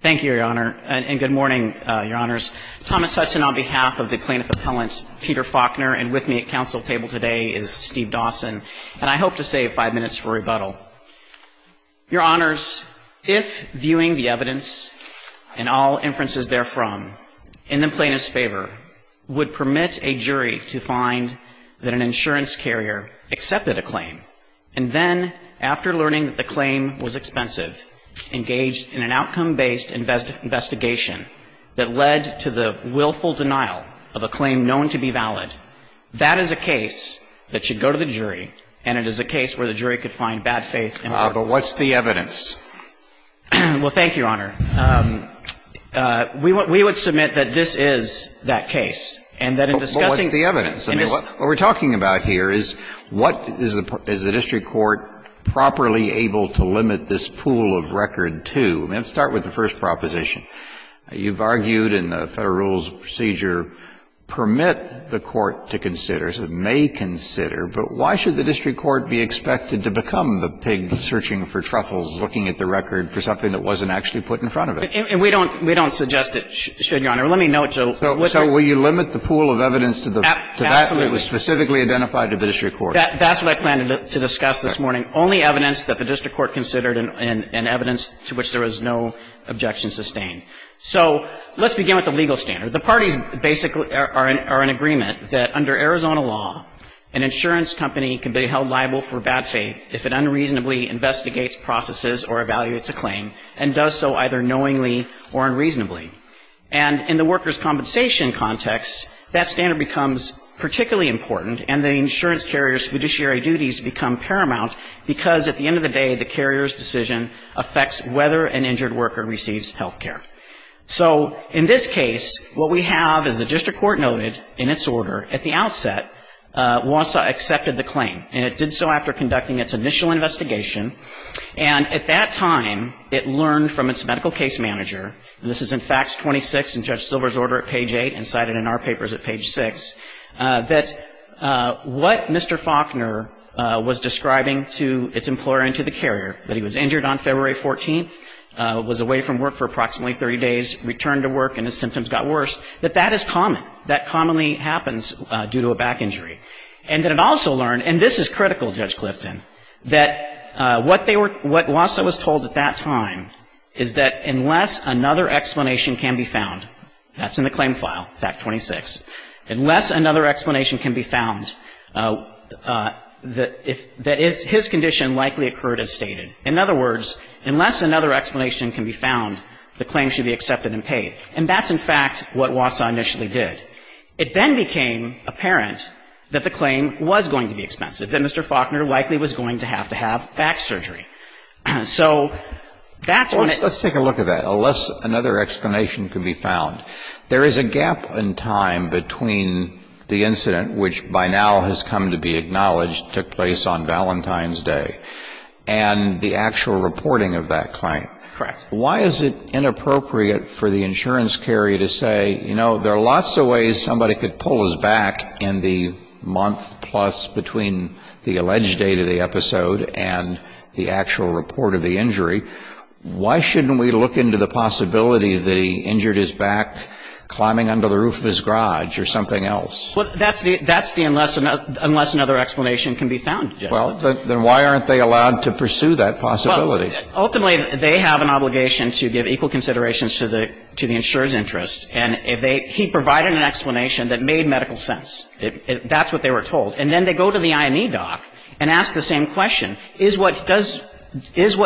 Thank you, Your Honor, and good morning, Your Honors. Thomas Hudson on behalf of the plaintiff appellant Peter Faulkner and with me at council table today is Steve Dawson and I hope to save five minutes for rebuttal. Your Honors, if viewing the evidence and all inferences therefrom in the plaintiff's favor would permit a jury to find that an insurance carrier accepted a claim and then, after learning that the claim was expensive, engaged in an outcome-based investigation that led to the willful denial of a claim known to be valid, that is a case that should go to the jury and it is a case where the jury could find bad faith in the court of law. But what's the evidence? Well, thank you, Your Honor. We would submit that this is that case and that in discussing the evidence, I mean, what we're talking about here is what is the district court properly able to limit this pool of record to? Let's start with the first proposition. You've argued in the Federal Rules procedure, permit the court to consider, so it may consider, but why should the district court be expected to become the pig searching for truffles, looking at the record for something that wasn't actually put in front of it? And we don't suggest it should, Your Honor. Let me note, though. So will you limit the pool of evidence to that that was specifically identified to the district court? Absolutely. That's what I planned to discuss this morning, only evidence that the district court considered and evidence to which there was no objection sustained. So let's begin with the legal standard. The parties basically are in agreement that under Arizona law, an insurance company can be held liable for bad faith if it unreasonably investigates processes or evaluates a claim and does so either knowingly or unreasonably. And in the workers' compensation context, that standard becomes particularly important, and the insurance carrier's fiduciary duties become paramount because at the end of the day, the carrier's decision affects whether an injured worker receives health care. So in this case, what we have is the district court noted in its order at the outset WASA accepted the claim, and it did so after conducting its initial investigation. And at that time, it learned from its medical case manager, and this is in fact 26 in Judge Silver's order at page 8 and cited in our papers at page 6, that what Mr. Faulkner was describing to its employer and to the carrier, that he was injured on February 14th, was away from work for approximately 30 days, returned to work and his symptoms got worse, that that is common. That commonly happens due to a back injury. And it also learned, and this is critical, Judge Clifton, that what they were what WASA was told at that time is that unless another explanation can be found, that's in the claim file, fact 26, unless another explanation can be found, that his condition likely occurred as stated. In other words, unless another explanation can be found, the claim should be accepted and paid. And that's, in fact, what WASA initially did. It then became apparent that the claim was going to be expensive, that Mr. Faulkner likely was going to have to have back surgery. So that's when it ---- Let's take a look at that. Unless another explanation can be found, there is a gap in time between the incident, which by now has come to be acknowledged, took place on Valentine's Day, and the actual reporting of that claim. Correct. Why is it inappropriate for the insurance carrier to say, you know, there are lots of ways somebody could pull his back in the month-plus between the alleged date of the episode and the actual report of the injury. Why shouldn't we look into the possibility that he injured his back climbing under the roof of his garage or something else? Well, that's the unless another explanation can be found, Judge Clifton. Well, then why aren't they allowed to pursue that possibility? Ultimately, they have an obligation to give equal considerations to the insurer's interests. And he provided an explanation that made medical sense. That's what they were told. And then they go to the IME doc and ask the same question, is what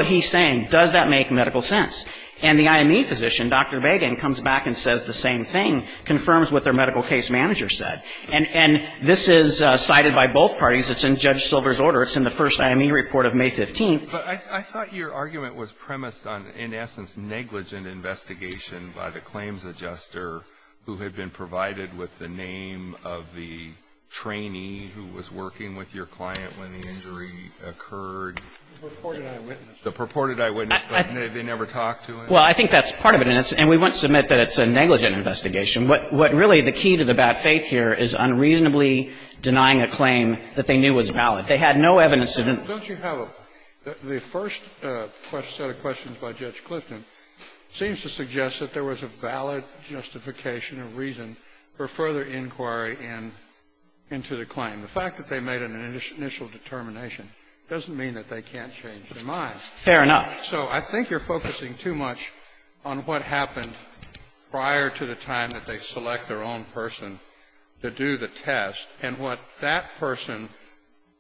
he's saying, does that make medical sense? And the IME physician, Dr. Bagan, comes back and says the same thing, confirms what their medical case manager said. And this is cited by both parties. It's in Judge Silver's order. It's in the first IME report of May 15th. But I thought your argument was premised on, in essence, negligent investigation by the claims adjuster who had been provided with the name of the trainee who was working with your client when the injury occurred. The purported eyewitness. The purported eyewitness, but they never talked to him. Well, I think that's part of it. And we wouldn't submit that it's a negligent investigation. What really the key to the bad faith here is unreasonably denying a claim that they knew was valid. They had no evidence to deny. Don't you have a – the first set of questions by Judge Clifton seems to suggest that there was a valid justification or reason for further inquiry into the claim. The fact that they made an initial determination doesn't mean that they can't change their mind. Fair enough. So I think you're focusing too much on what happened prior to the time that they select their own person to do the test and what that person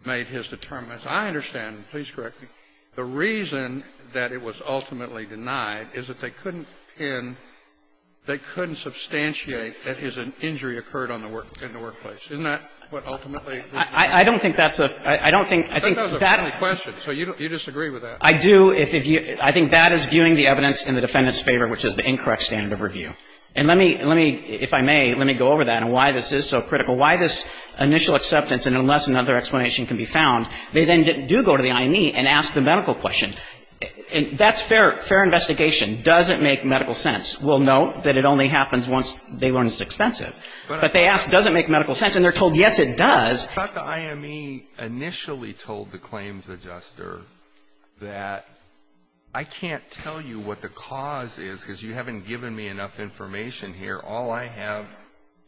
made his determination. I understand, and please correct me, the reason that it was ultimately denied is that they couldn't pin – they couldn't substantiate that an injury occurred in the workplace. Isn't that what ultimately – I don't think that's a – I don't think – That was a funny question. So you disagree with that? I do. I think that is viewing the evidence in the defendant's favor, which is the incorrect standard of review. And let me – let me – if I may, let me go over that and why this is so critical, why this initial acceptance, and unless another explanation can be found, they then do go to the IME and ask the medical question. That's fair investigation. Does it make medical sense? We'll note that it only happens once they learn it's expensive. But they ask, does it make medical sense? And they're told, yes, it does. I thought the IME initially told the claims adjuster that I can't tell you what the cause is because you haven't given me enough information here. All I have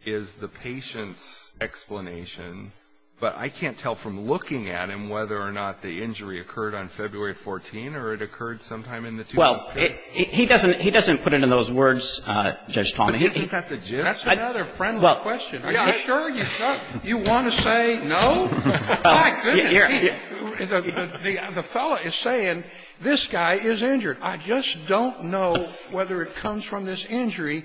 is the patient's explanation, but I can't tell from looking at him whether or not the injury occurred on February 14 or it occurred sometime in the – Well, he doesn't – he doesn't put it in those words, Judge Thomas. But isn't that the gist? That's another friendly question. Are you sure you want to say no? My goodness. The fellow is saying, this guy is injured. I just don't know whether it comes from this injury.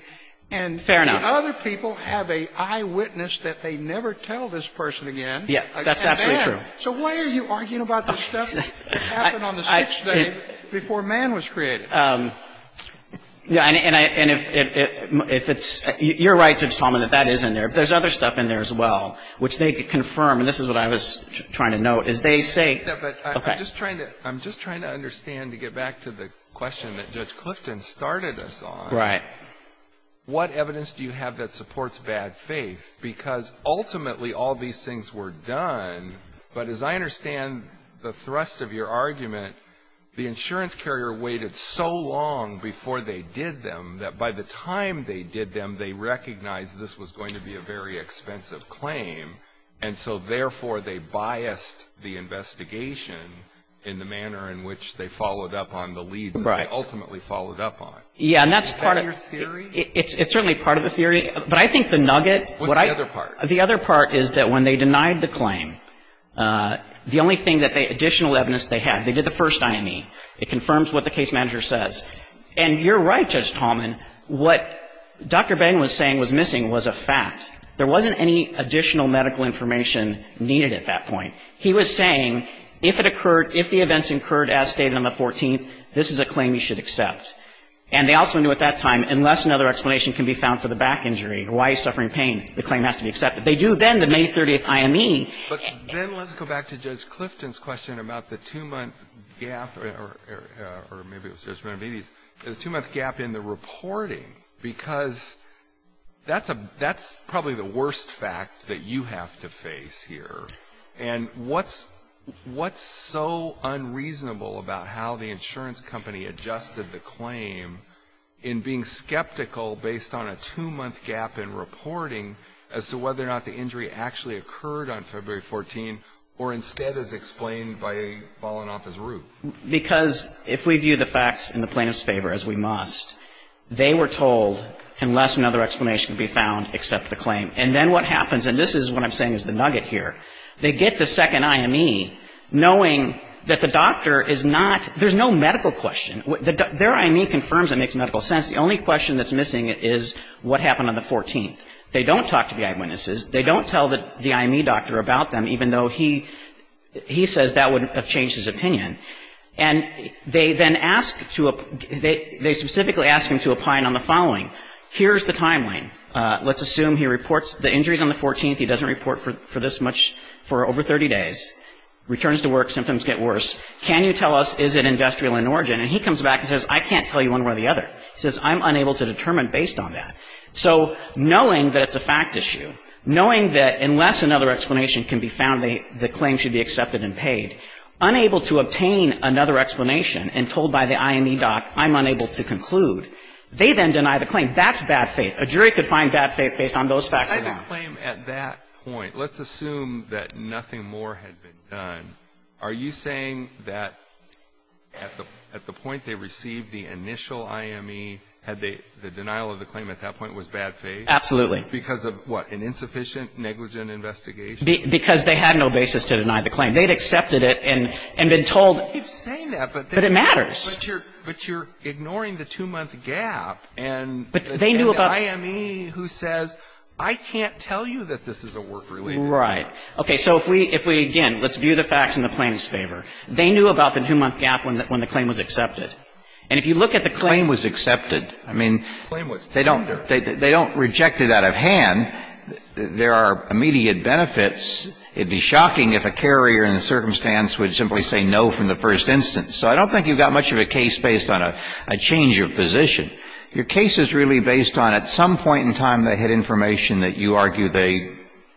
Fair enough. And the other people have an eyewitness that they never tell this person again. Yes. That's absolutely true. So why are you arguing about the stuff that happened on the 6th day before man was created? And if it's – you're right, Judge Thomas, that that is in there. But there's other stuff in there as well, which they confirm, and this is what I was trying to note, is they say – I'm just trying to understand to get back to the question that Judge Clifton started us on. Right. What evidence do you have that supports bad faith? Because ultimately all these things were done, but as I understand the thrust of your So long before they did them, that by the time they did them, they recognized this was going to be a very expensive claim, and so therefore they biased the investigation in the manner in which they followed up on the leads that they ultimately followed up on. Right. Yeah, and that's part of – Is that your theory? It's certainly part of the theory, but I think the nugget – What's the other part? The other part is that when they denied the claim, the only thing that they – additional evidence they had. They did the first IME. It confirms what the case manager says. And you're right, Judge Tallman. What Dr. Bain was saying was missing was a fact. There wasn't any additional medical information needed at that point. He was saying if it occurred – if the events occurred as stated on the 14th, this is a claim you should accept. And they also knew at that time, unless another explanation can be found for the back injury, why he's suffering pain, the claim has to be accepted. They do then the May 30th IME. But then let's go back to Judge Clifton's question about the two-month gap – or maybe it was Judge Manobides – the two-month gap in the reporting, because that's probably the worst fact that you have to face here. And what's so unreasonable about how the insurance company adjusted the claim in being skeptical based on a two-month gap in reporting as to whether or not the injury actually occurred on February 14th or instead is explained by falling off his roof? Because if we view the facts in the plaintiff's favor, as we must, they were told, unless another explanation can be found, accept the claim. And then what happens – and this is what I'm saying is the nugget here – they get the second IME knowing that the doctor is not – there's no medical question. Their IME confirms it makes medical sense. The only question that's missing is what happened on the 14th. They don't talk to the eyewitnesses. They don't tell the IME doctor about them, even though he says that wouldn't have changed his opinion. And they then ask to – they specifically ask him to opine on the following. Here's the timeline. Let's assume he reports the injuries on the 14th. He doesn't report for this much for over 30 days. Returns to work. Symptoms get worse. Can you tell us is it industrial in origin? And he comes back and says, I can't tell you one way or the other. He says, I'm unable to determine based on that. So knowing that it's a fact issue, knowing that unless another explanation can be found, the claim should be accepted and paid. Unable to obtain another explanation and told by the IME doc, I'm unable to conclude, they then deny the claim. That's bad faith. A jury could find bad faith based on those facts alone. Let's assume that nothing more had been done. Are you saying that at the point they received the initial IME, had the denial of the claim at that point was bad faith? Absolutely. Because of what? An insufficient negligent investigation? Because they had no basis to deny the claim. They had accepted it and been told. They keep saying that. But it matters. But you're ignoring the two-month gap. But they knew about. And the IME who says, I can't tell you that this is a work-related matter. Right. Okay. So if we, again, let's view the facts in the plaintiff's favor. They knew about the two-month gap when the claim was accepted. And if you look at the claim was accepted, I mean. The claim was tender. They don't reject it out of hand. There are immediate benefits. It would be shocking if a carrier in the circumstance would simply say no from the first instance. So I don't think you've got much of a case based on a change of position. Your case is really based on at some point in time they had information that you argue they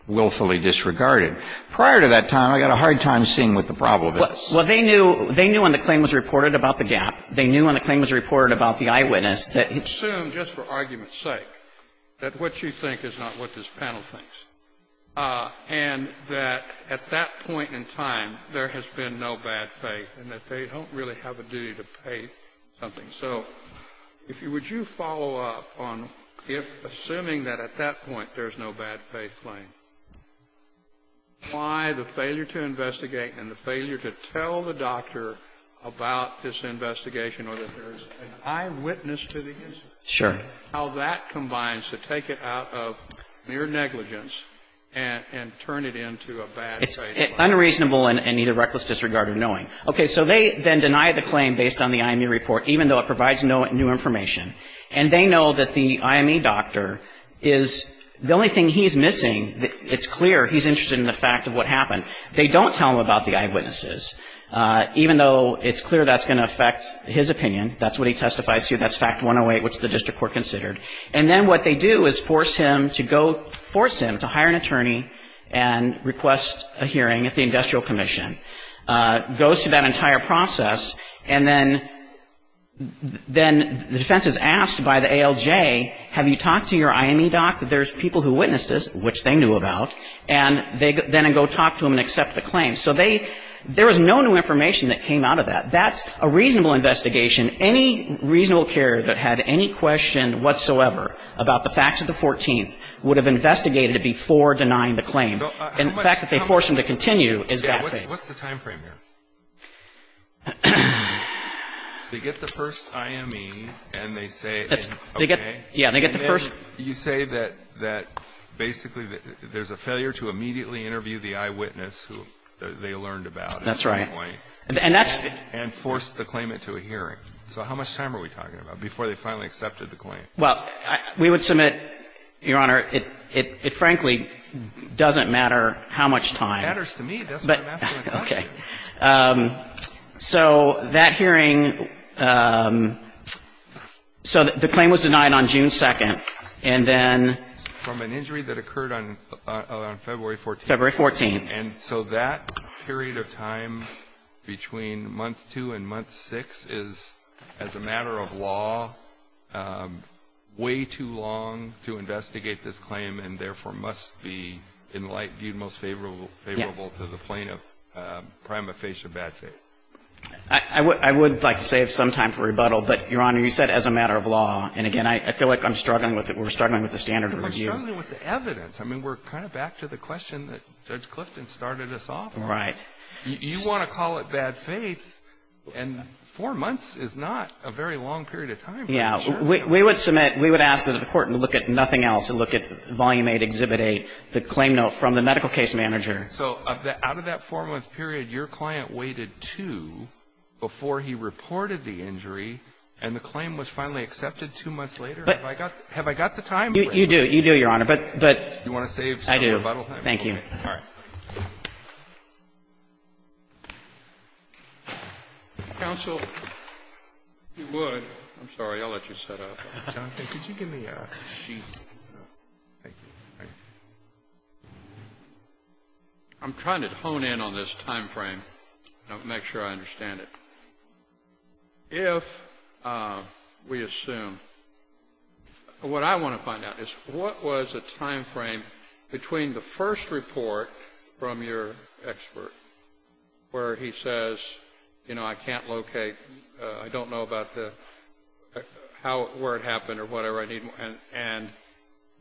willfully disregarded. Prior to that time, I got a hard time seeing what the problem is. Well, they knew when the claim was reported about the gap. They knew when the claim was reported about the eyewitness. Assume, just for argument's sake, that what you think is not what this panel thinks. And that at that point in time, there has been no bad faith and that they don't really have a duty to pay something. So if you would you follow up on if assuming that at that point there's no bad faith claim, why the failure to investigate and the failure to tell the doctor about this investigation or that there's an eyewitness to the incident. Sure. How that combines to take it out of mere negligence and turn it into a bad faith claim. It's unreasonable and either reckless disregard or knowing. Okay. So they then deny the claim based on the IME report, even though it provides no new information. And they know that the IME doctor is the only thing he's missing. It's clear he's interested in the fact of what happened. They don't tell him about the eyewitnesses, even though it's clear that's going to affect his opinion. That's what he testifies to. That's fact 108, which the district court considered. And then what they do is force him to go, force him to hire an attorney and request a hearing at the industrial commission. Goes through that entire process and then the defense is asked by the ALJ, have you talked to your IME doctor? There's people who witnessed this, which they knew about. And they then go talk to him and accept the claim. So there was no new information that came out of that. That's a reasonable investigation. Any reasonable carrier that had any question whatsoever about the facts of the 14th would have investigated it before denying the claim. And the fact that they force him to continue is bad faith. What's the time frame here? They get the first IME and they say, okay. Yeah, they get the first. You say that basically there's a failure to immediately interview the eyewitness who they learned about. That's right. And that's And force the claimant to a hearing. So how much time are we talking about before they finally accepted the claim? Well, we would submit, Your Honor, it frankly doesn't matter how much time. It matters to me. That's what I'm asking the question. Okay. So that hearing, so the claim was denied on June 2nd and then From an injury that occurred on February 14th. February 14th. And so that period of time between month 2 and month 6 is, as a matter of law, way too long to investigate this claim and therefore must be in light viewed most favorable to the plaintiff prima facie of bad faith. I would like to save some time for rebuttal. But, Your Honor, you said as a matter of law. And again, I feel like I'm struggling with it. We're struggling with the standard review. We're struggling with the evidence. I mean, we're kind of back to the question that Judge Clifton started us off on. Right. You want to call it bad faith and four months is not a very long period of time. Yeah. We would submit. We would ask the court to look at nothing else. Look at Volume 8, Exhibit 8, the claim note from the medical case manager. So out of that four-month period, your client waited two before he reported the injury and the claim was finally accepted two months later? Have I got the time? You do. You do, Your Honor. But, but. You want to save some rebuttal time? I do. Thank you. All right. Counsel, if you would. I'm sorry. I'll let you set up. Could you give me a sheet? Thank you. I'm trying to hone in on this time frame and make sure I understand it. If we assume, what I want to find out is what was the time frame between the first report from your expert where he says, you know, I can't locate, I don't know about the how, where it happened or whatever I need, and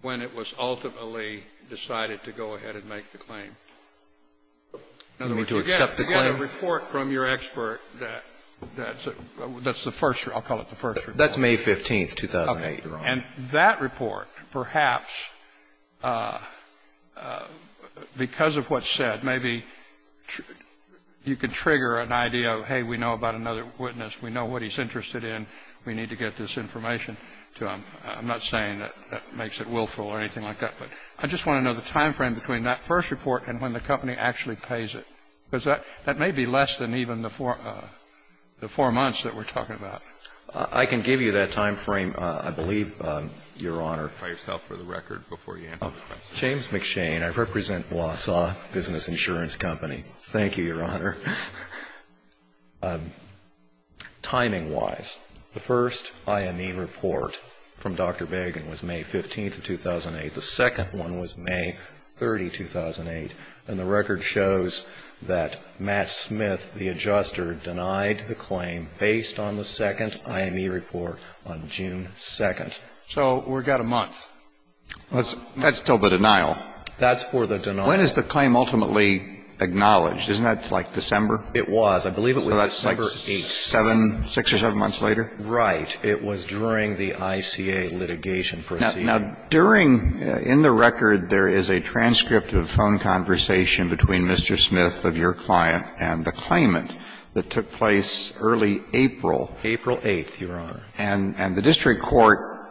when it was ultimately decided to go ahead and make the claim? In order to accept the claim? The report from your expert, that's the first. I'll call it the first report. That's May 15th, 2008, Your Honor. And that report, perhaps, because of what's said, maybe you could trigger an idea of, hey, we know about another witness. We know what he's interested in. We need to get this information to him. I'm not saying that makes it willful or anything like that, but I just want to know the time frame between that first report and when the company actually pays it. Because that may be less than even the four months that we're talking about. I can give you that time frame, I believe, Your Honor. By yourself, for the record, before you answer the question. James McShane. I represent Wausau Business Insurance Company. Thank you, Your Honor. Timing-wise, the first IME report from Dr. Begin was May 15th of 2008. The second one was May 30, 2008. And the record shows that Matt Smith, the adjuster, denied the claim based on the second IME report on June 2nd. So we've got a month. That's still the denial. That's for the denial. When is the claim ultimately acknowledged? Isn't that like December? It was. I believe it was December 8th. So that's like six or seven months later? Right. It was during the ICA litigation proceeding. Now, during the record, there is a transcript of a phone conversation between Mr. Smith of your client and the claimant that took place early April. April 8th, Your Honor. And the district court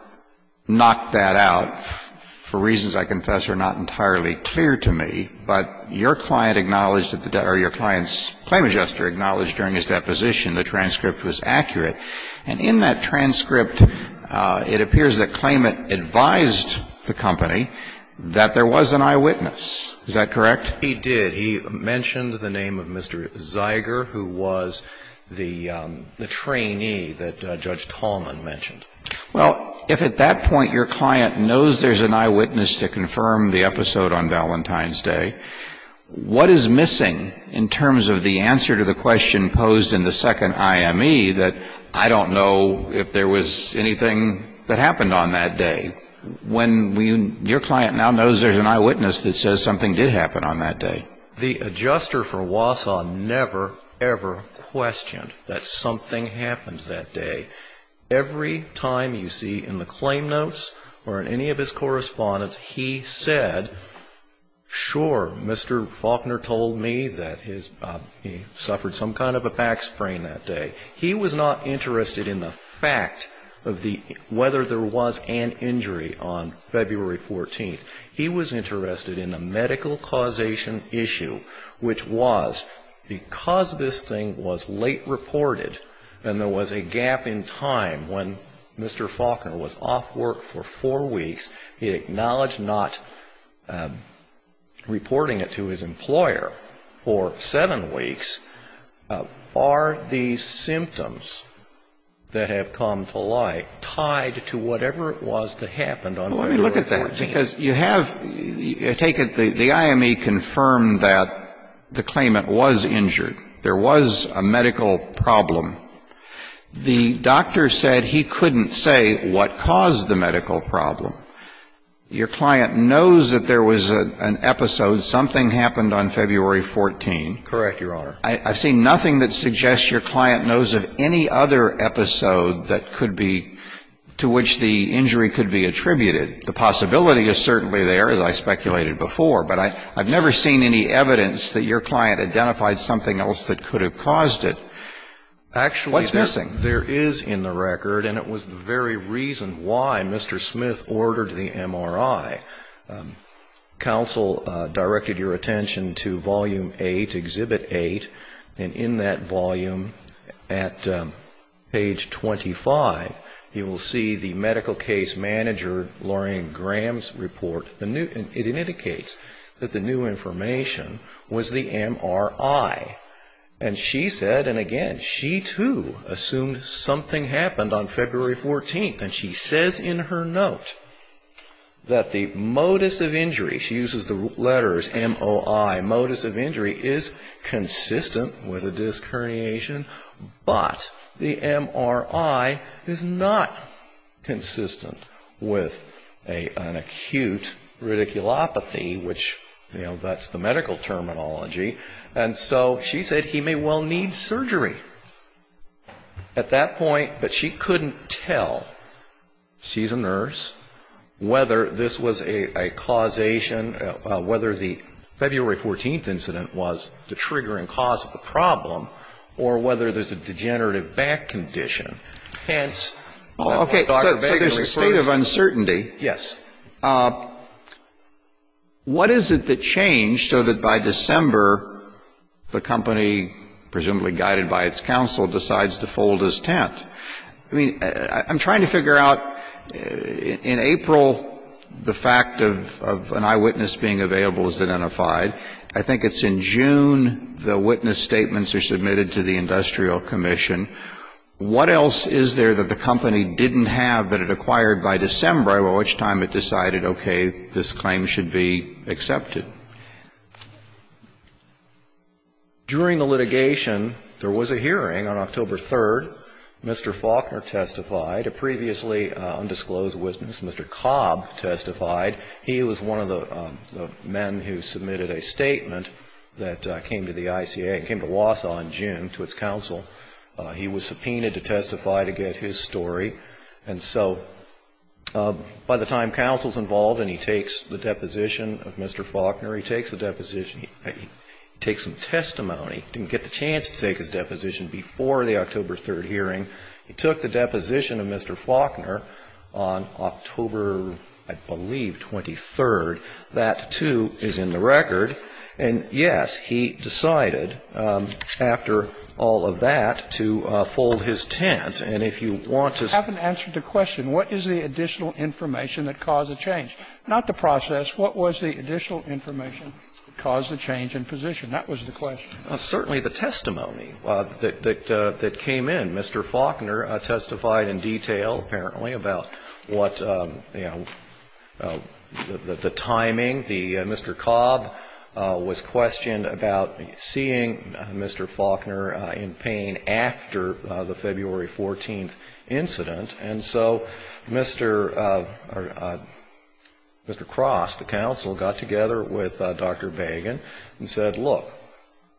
knocked that out for reasons, I confess, are not entirely clear to me. But your client acknowledged, or your client's claim adjuster acknowledged during his deposition the transcript was accurate. And in that transcript, it appears the claimant advised the company that there was an eyewitness. Is that correct? He did. He mentioned the name of Mr. Zeiger, who was the trainee that Judge Tallman mentioned. Well, if at that point your client knows there's an eyewitness to confirm the episode on Valentine's Day, what is missing in terms of the answer to the question posed in the second IME that I don't know if there was anything that happened on that day? When your client now knows there's an eyewitness that says something did happen on that day. The adjuster for Wausau never, ever questioned that something happened that day. Every time you see in the claim notes or in any of his correspondence, he said, sure, Mr. Faulkner told me that he suffered some kind of a back sprain that day. He was not interested in the fact of the whether there was an injury on February 14th. He was interested in the medical causation issue, which was because this thing was late reported and there was a gap in time when Mr. Faulkner was off work for reporting it to his employer for seven weeks. Are these symptoms that have come to light tied to whatever it was that happened on February 14th? Well, let me look at that, because you have taken the IME confirmed that the claimant was injured. There was a medical problem. The doctor said he couldn't say what caused the medical problem. Your client knows that there was an episode. Something happened on February 14th. Correct, Your Honor. I've seen nothing that suggests your client knows of any other episode that could be, to which the injury could be attributed. The possibility is certainly there, as I speculated before, but I've never seen any evidence that your client identified something else that could have caused it. Actually, there is in the record, and it was the very reason why Mr. Smith ordered the MRI, counsel directed your attention to Volume 8, Exhibit 8, and in that volume at page 25, you will see the medical case manager, Lorraine Graham's, report. It indicates that the new information was the MRI. And she said, and again, she too assumed something happened on February 14th. And she says in her note that the modus of injury, she uses the letters M-O-I, modus of injury is consistent with a disc herniation, but the MRI is not consistent with an acute radiculopathy, which, you know, that's the medical terminology. And so she said he may well need surgery at that point. But she couldn't tell, she's a nurse, whether this was a causation, whether the February 14th incident was the triggering cause of the problem, or whether there's a degenerative back condition, hence Dr. Baker referred to it. Okay. So there's a state of uncertainty. Yes. What is it that changed so that by December, the company, presumably guided by its counsel, decides to fold his tent? I mean, I'm trying to figure out, in April, the fact of an eyewitness being available is identified. I think it's in June the witness statements are submitted to the Industrial Commission. What else is there that the company didn't have that it acquired by December, by which time it decided, okay, this claim should be accepted? During the litigation, there was a hearing on October 3rd. Mr. Faulkner testified, a previously undisclosed witness. Mr. Cobb testified. He was one of the men who submitted a statement that came to the ICA, came to Wausau in June to its counsel. He was subpoenaed to testify to get his story. And so by the time counsel's involved and he takes the deposition of Mr. Faulkner, he takes the deposition, he takes some testimony, didn't get the chance to take his deposition before the October 3rd hearing, he took the deposition of Mr. Faulkner on October, I believe, 23rd. That, too, is in the record. And, yes, he decided after all of that to fold his tent. And if you want to... I haven't answered the question. What is the additional information that caused the change? Not the process. What was the additional information that caused the change in position? That was the question. Well, certainly the testimony that came in. Mr. Faulkner testified in detail, apparently, about what, you know, the timing. The... Mr. Cobb was questioned about seeing Mr. Faulkner in pain after the February 14th incident. And so Mr. Cross, the counsel, got together with Dr. Bagan and said, look,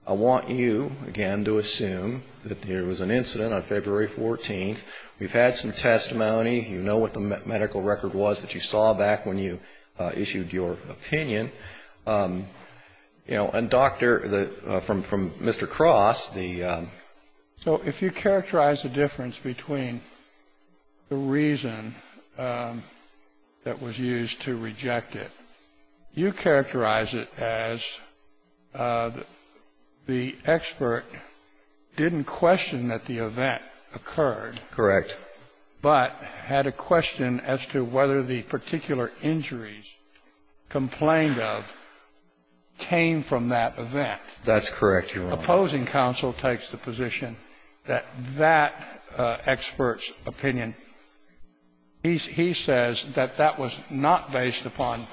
I want you, again, to assume that there was an incident on February 14th. We've had some testimony. You know what the medical record was that you saw back when you issued your opinion. You know, and Dr., from Mr. Cross, the... So if you characterize the difference between the reason that was used to reject it, you characterize it as the expert didn't question that the event occurred. Correct. But had a question as to whether the particular injuries complained of came from that event. That's correct, Your Honor. The opposing counsel takes the position that that expert's opinion, he says that that was not based upon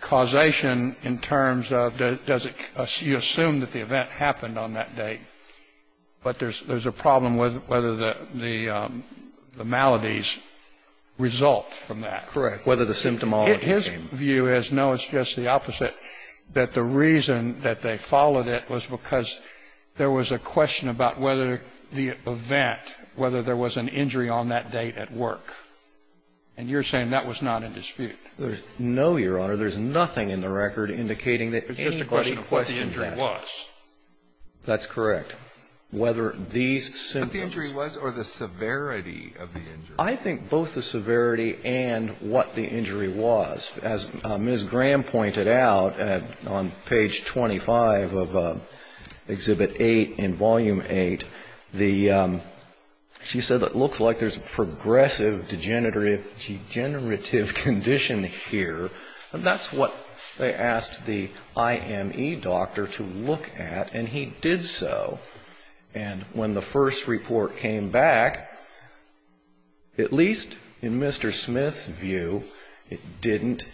causation in terms of does it, you assume that the event happened on that date. But there's a problem with whether the maladies result from that. Correct. Whether the symptomology came. His view is no, it's just the opposite, that the reason that they followed it was because there was a question about whether the event, whether there was an injury on that date at work. And you're saying that was not in dispute. No, Your Honor. There's nothing in the record indicating that anybody questioned that. It's just a question of what the injury was. That's correct. Whether these symptoms. What the injury was or the severity of the injury. I think both the severity and what the injury was. As Ms. Graham pointed out on page 25 of Exhibit 8 in Volume 8, she said it looks like there's a progressive degenerative condition here. And that's what they asked the IME doctor to look at and he did so. And when the first report came back, at least in Mr. Smith's view, it didn't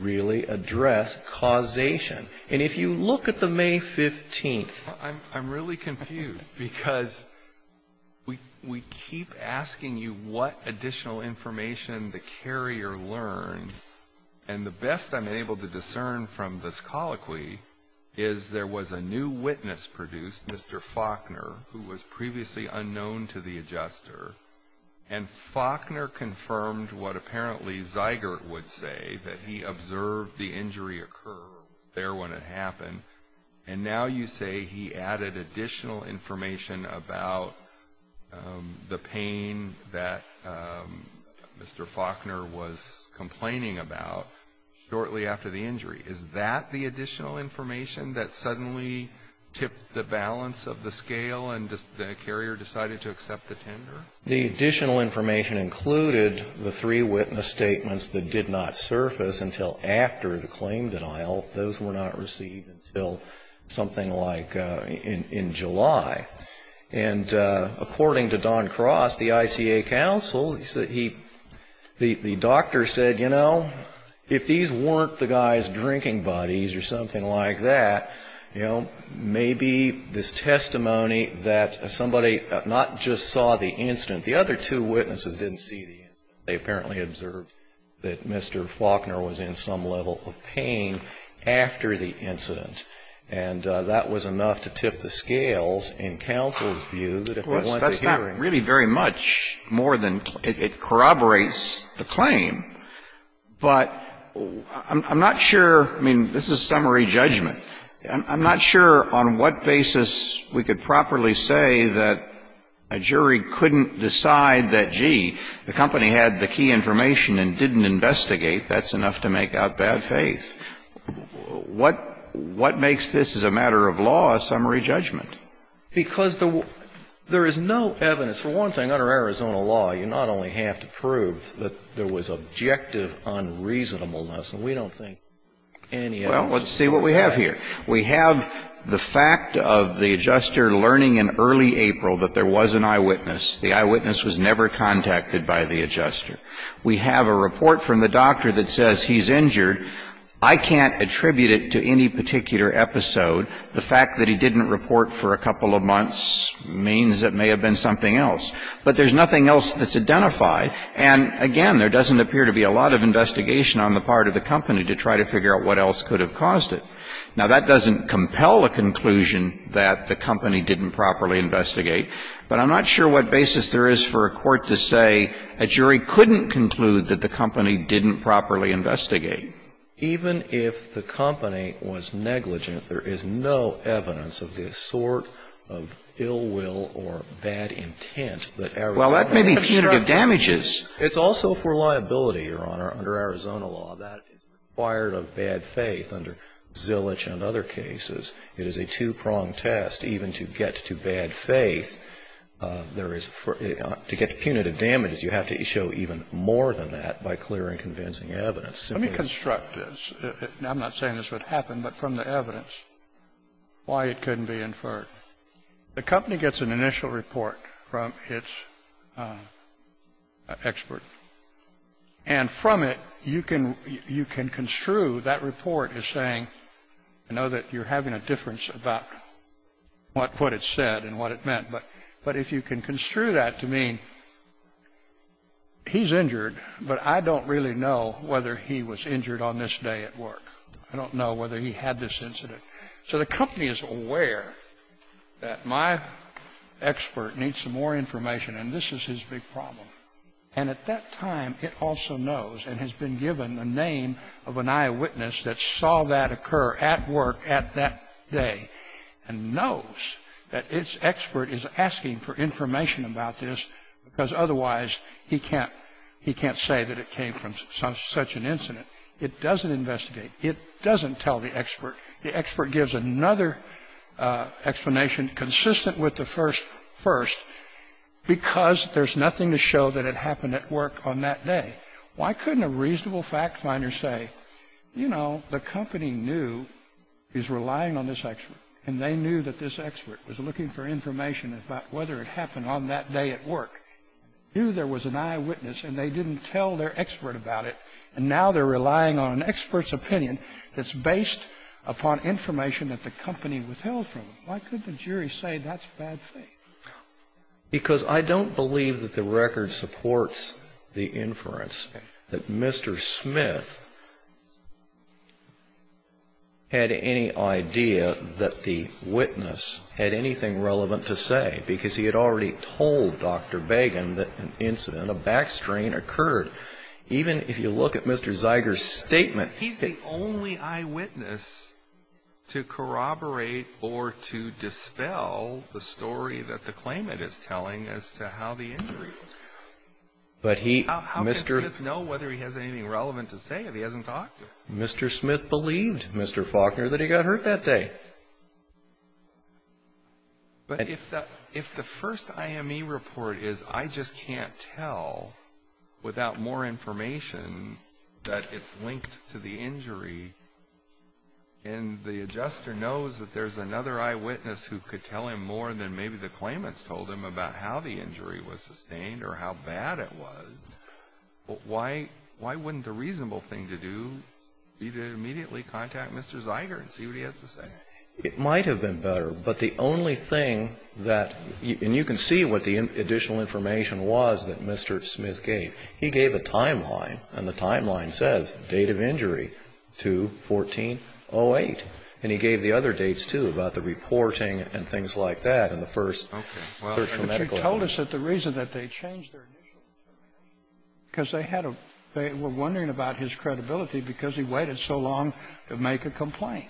really address causation. And if you look at the May 15th. I'm really confused because we keep asking you what additional information the carrier learned. And the best I'm able to discern from this colloquy is there was a new witness produced, Mr. Faulkner, who was previously unknown to the adjuster. And Faulkner confirmed what apparently Zeigert would say, that he observed the injury occur there when it happened. And now you say he added additional information about the pain that Mr. Faulkner was complaining about shortly after the injury. Is that the additional information that suddenly tipped the balance of the scale and the carrier decided to accept the tender? The additional information included the three witness statements that did not surface until after the claim denial. Those were not received until something like in July. And according to Don Cross, the ICA counsel, the doctor said, you know, if these weren't the guy's drinking buddies or something like that, you know, maybe this testimony that somebody not just saw the incident, the other two witnesses didn't see the incident. They apparently observed that Mr. Faulkner was in some level of pain after the incident. And that was enough to tip the scales in counsel's view that if they went to hearing. Well, that's not really very much more than it corroborates the claim. But I'm not sure, I mean, this is summary judgment. I'm not sure on what basis we could properly say that a jury couldn't decide that, gee, the company had the key information and didn't investigate. That's enough to make out bad faith. What makes this, as a matter of law, a summary judgment? Because there is no evidence. For one thing, under Arizona law, you not only have to prove that there was objective unreasonableness, and we don't think any evidence of that. Well, let's see what we have here. We have the fact of the adjuster learning in early April that there was an eyewitness. The eyewitness was never contacted by the adjuster. We have a report from the doctor that says he's injured. I can't attribute it to any particular episode. The fact that he didn't report for a couple of months means it may have been something else. But there's nothing else that's identified. And, again, there doesn't appear to be a lot of investigation on the part of the company to try to figure out what else could have caused it. Now, that doesn't compel a conclusion that the company didn't properly investigate. But I'm not sure what basis there is for a court to say a jury couldn't conclude that the company didn't properly investigate. Even if the company was negligent, there is no evidence of this sort of ill will or bad intent that Arizona has struck down. Well, that may be punitive damages. It's also for liability, Your Honor, under Arizona law, that it's required of bad faith under Zilich and other cases. It is a two-pronged test. Even to get to bad faith, there is to get punitive damages, you have to show even more than that by clearing convincing evidence. Let me construct this. I'm not saying this would happen, but from the evidence, why it couldn't be inferred. The company gets an initial report from its expert. And from it, you can construe that report as saying, I know that you're having a difficult difference about what it said and what it meant. But if you can construe that to mean he's injured, but I don't really know whether he was injured on this day at work. I don't know whether he had this incident. So the company is aware that my expert needs some more information, and this is his big problem. And at that time, it also knows and has been given the name of an eyewitness that saw that occur at work at that day and knows that its expert is asking for information about this because otherwise he can't say that it came from such an incident. It doesn't investigate. It doesn't tell the expert. The expert gives another explanation consistent with the first, because there's nothing to show that it happened at work on that day. Why couldn't a reasonable fact finder say, you know, the company knew is relying on this expert, and they knew that this expert was looking for information about whether it happened on that day at work, knew there was an eyewitness, and they didn't tell their expert about it, and now they're relying on an expert's opinion that's based upon information that the company withheld from them. Why couldn't the jury say that's bad faith? Because I don't believe that the record supports the inference that Mr. Smith had any idea that the witness had anything relevant to say, because he had already told Dr. Began that an incident, a backstrain, occurred. Even if you look at Mr. Zeiger's statement, he's the only eyewitness to corroborate or to dispel the story that the claimant is telling as to how the injury occurred. How can Smith know whether he has anything relevant to say if he hasn't talked to him? Mr. Smith believed, Mr. Faulkner, that he got hurt that day. But if the first IME report is, I just can't tell without more information that it's linked to the injury, and the adjuster knows that there's another eyewitness who could tell him more than maybe the claimants told him about how the injury was sustained or how bad it was, why wouldn't the reasonable thing to do be to immediately contact Mr. Zeiger and see what he has to say? It might have been better, but the only thing that, and you can see what the additional information was that Mr. Smith gave. He gave a timeline, and the timeline says, date of injury, 2-14-08. And he gave the other dates, too, about the reporting and things like that in the first search for medical evidence. Okay. Well, but you told us that the reason that they changed their initials was because they had a, they were wondering about his credibility because he waited so long to make a complaint.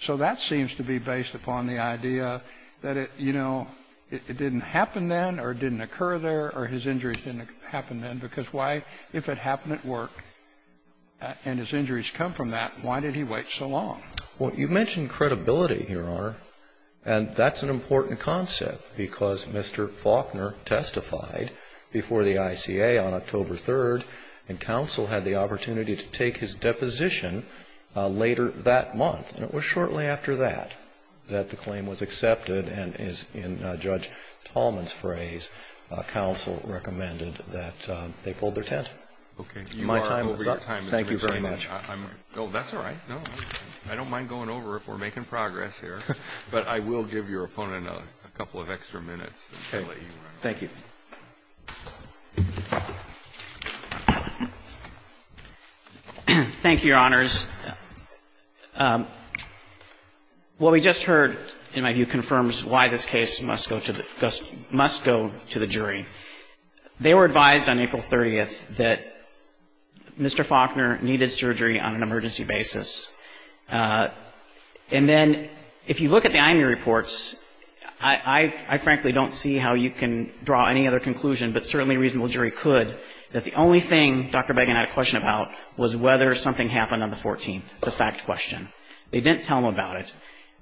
So that seems to be based upon the idea that it, you know, it didn't happen then or it didn't occur there or his injuries didn't happen then because why, if it happened at work and his injuries come from that, why did he wait so long? Well, you mentioned credibility here, Your Honor, and that's an important concept because Mr. Faulkner testified before the ICA on October 3rd, and counsel had the opportunity to And it was shortly after that that the claim was accepted, and as in Judge Tallman's phrase, counsel recommended that they pulled their tent. Okay. You are over your time, Mr. Richland. My time is up. Thank you very much. No, that's all right. No, I don't mind going over if we're making progress here. But I will give your opponent a couple of extra minutes. Okay. Thank you. Thank you, Your Honors. Well, we just heard, in my view, confirms why this case must go to the jury. They were advised on April 30th that Mr. Faulkner needed surgery on an emergency basis. And then if you look at the IMU reports, I frankly don't see how you can draw any other conclusion, but certainly a reasonable jury could, that the only thing Dr. Begin had a about it,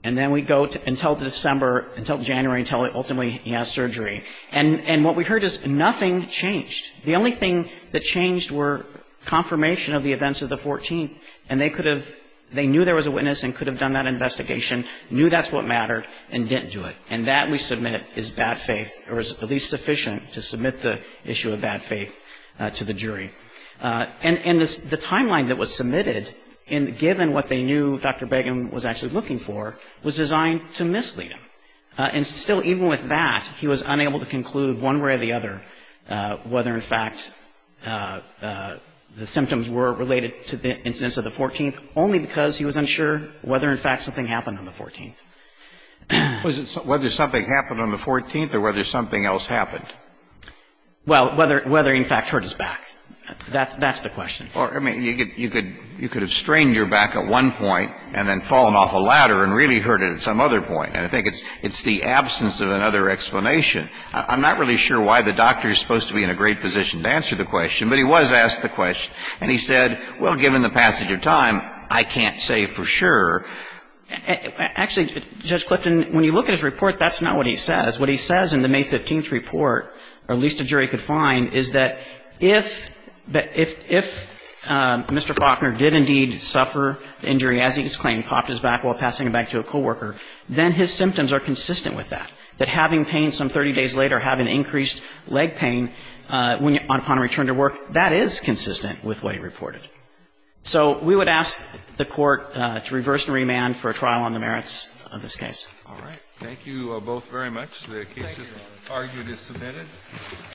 and then we go until December, until January, until ultimately he has surgery. And what we heard is nothing changed. The only thing that changed were confirmation of the events of the 14th, and they could have, they knew there was a witness and could have done that investigation, knew that's what mattered, and didn't do it. And that, we submit, is bad faith, or is at least sufficient to submit the issue of bad faith to the jury. And the timeline that was submitted, given what they knew Dr. Begin was actually looking for, was designed to mislead him. And still, even with that, he was unable to conclude one way or the other whether in fact the symptoms were related to the incidents of the 14th, only because he was unsure whether in fact something happened on the 14th. Was it whether something happened on the 14th or whether something else happened? Well, whether in fact hurt his back. That's the question. Well, I mean, you could have strained your back at one point and then fallen off a ladder and really hurt it at some other point. And I think it's the absence of another explanation. I'm not really sure why the doctor is supposed to be in a great position to answer the question, but he was asked the question. And he said, well, given the passage of time, I can't say for sure. Actually, Judge Clifton, when you look at his report, that's not what he says. What he says in the May 15th report, or at least a jury could find, is that if Mr. Faulkner did indeed suffer the injury as he has claimed, popped his back while passing it back to a co-worker, then his symptoms are consistent with that. That having pain some 30 days later, having increased leg pain upon return to work, that is consistent with what he reported. So we would ask the Court to reverse and remand for a trial on the merits of this All right. Thank you both very much. The case is argued and submitted.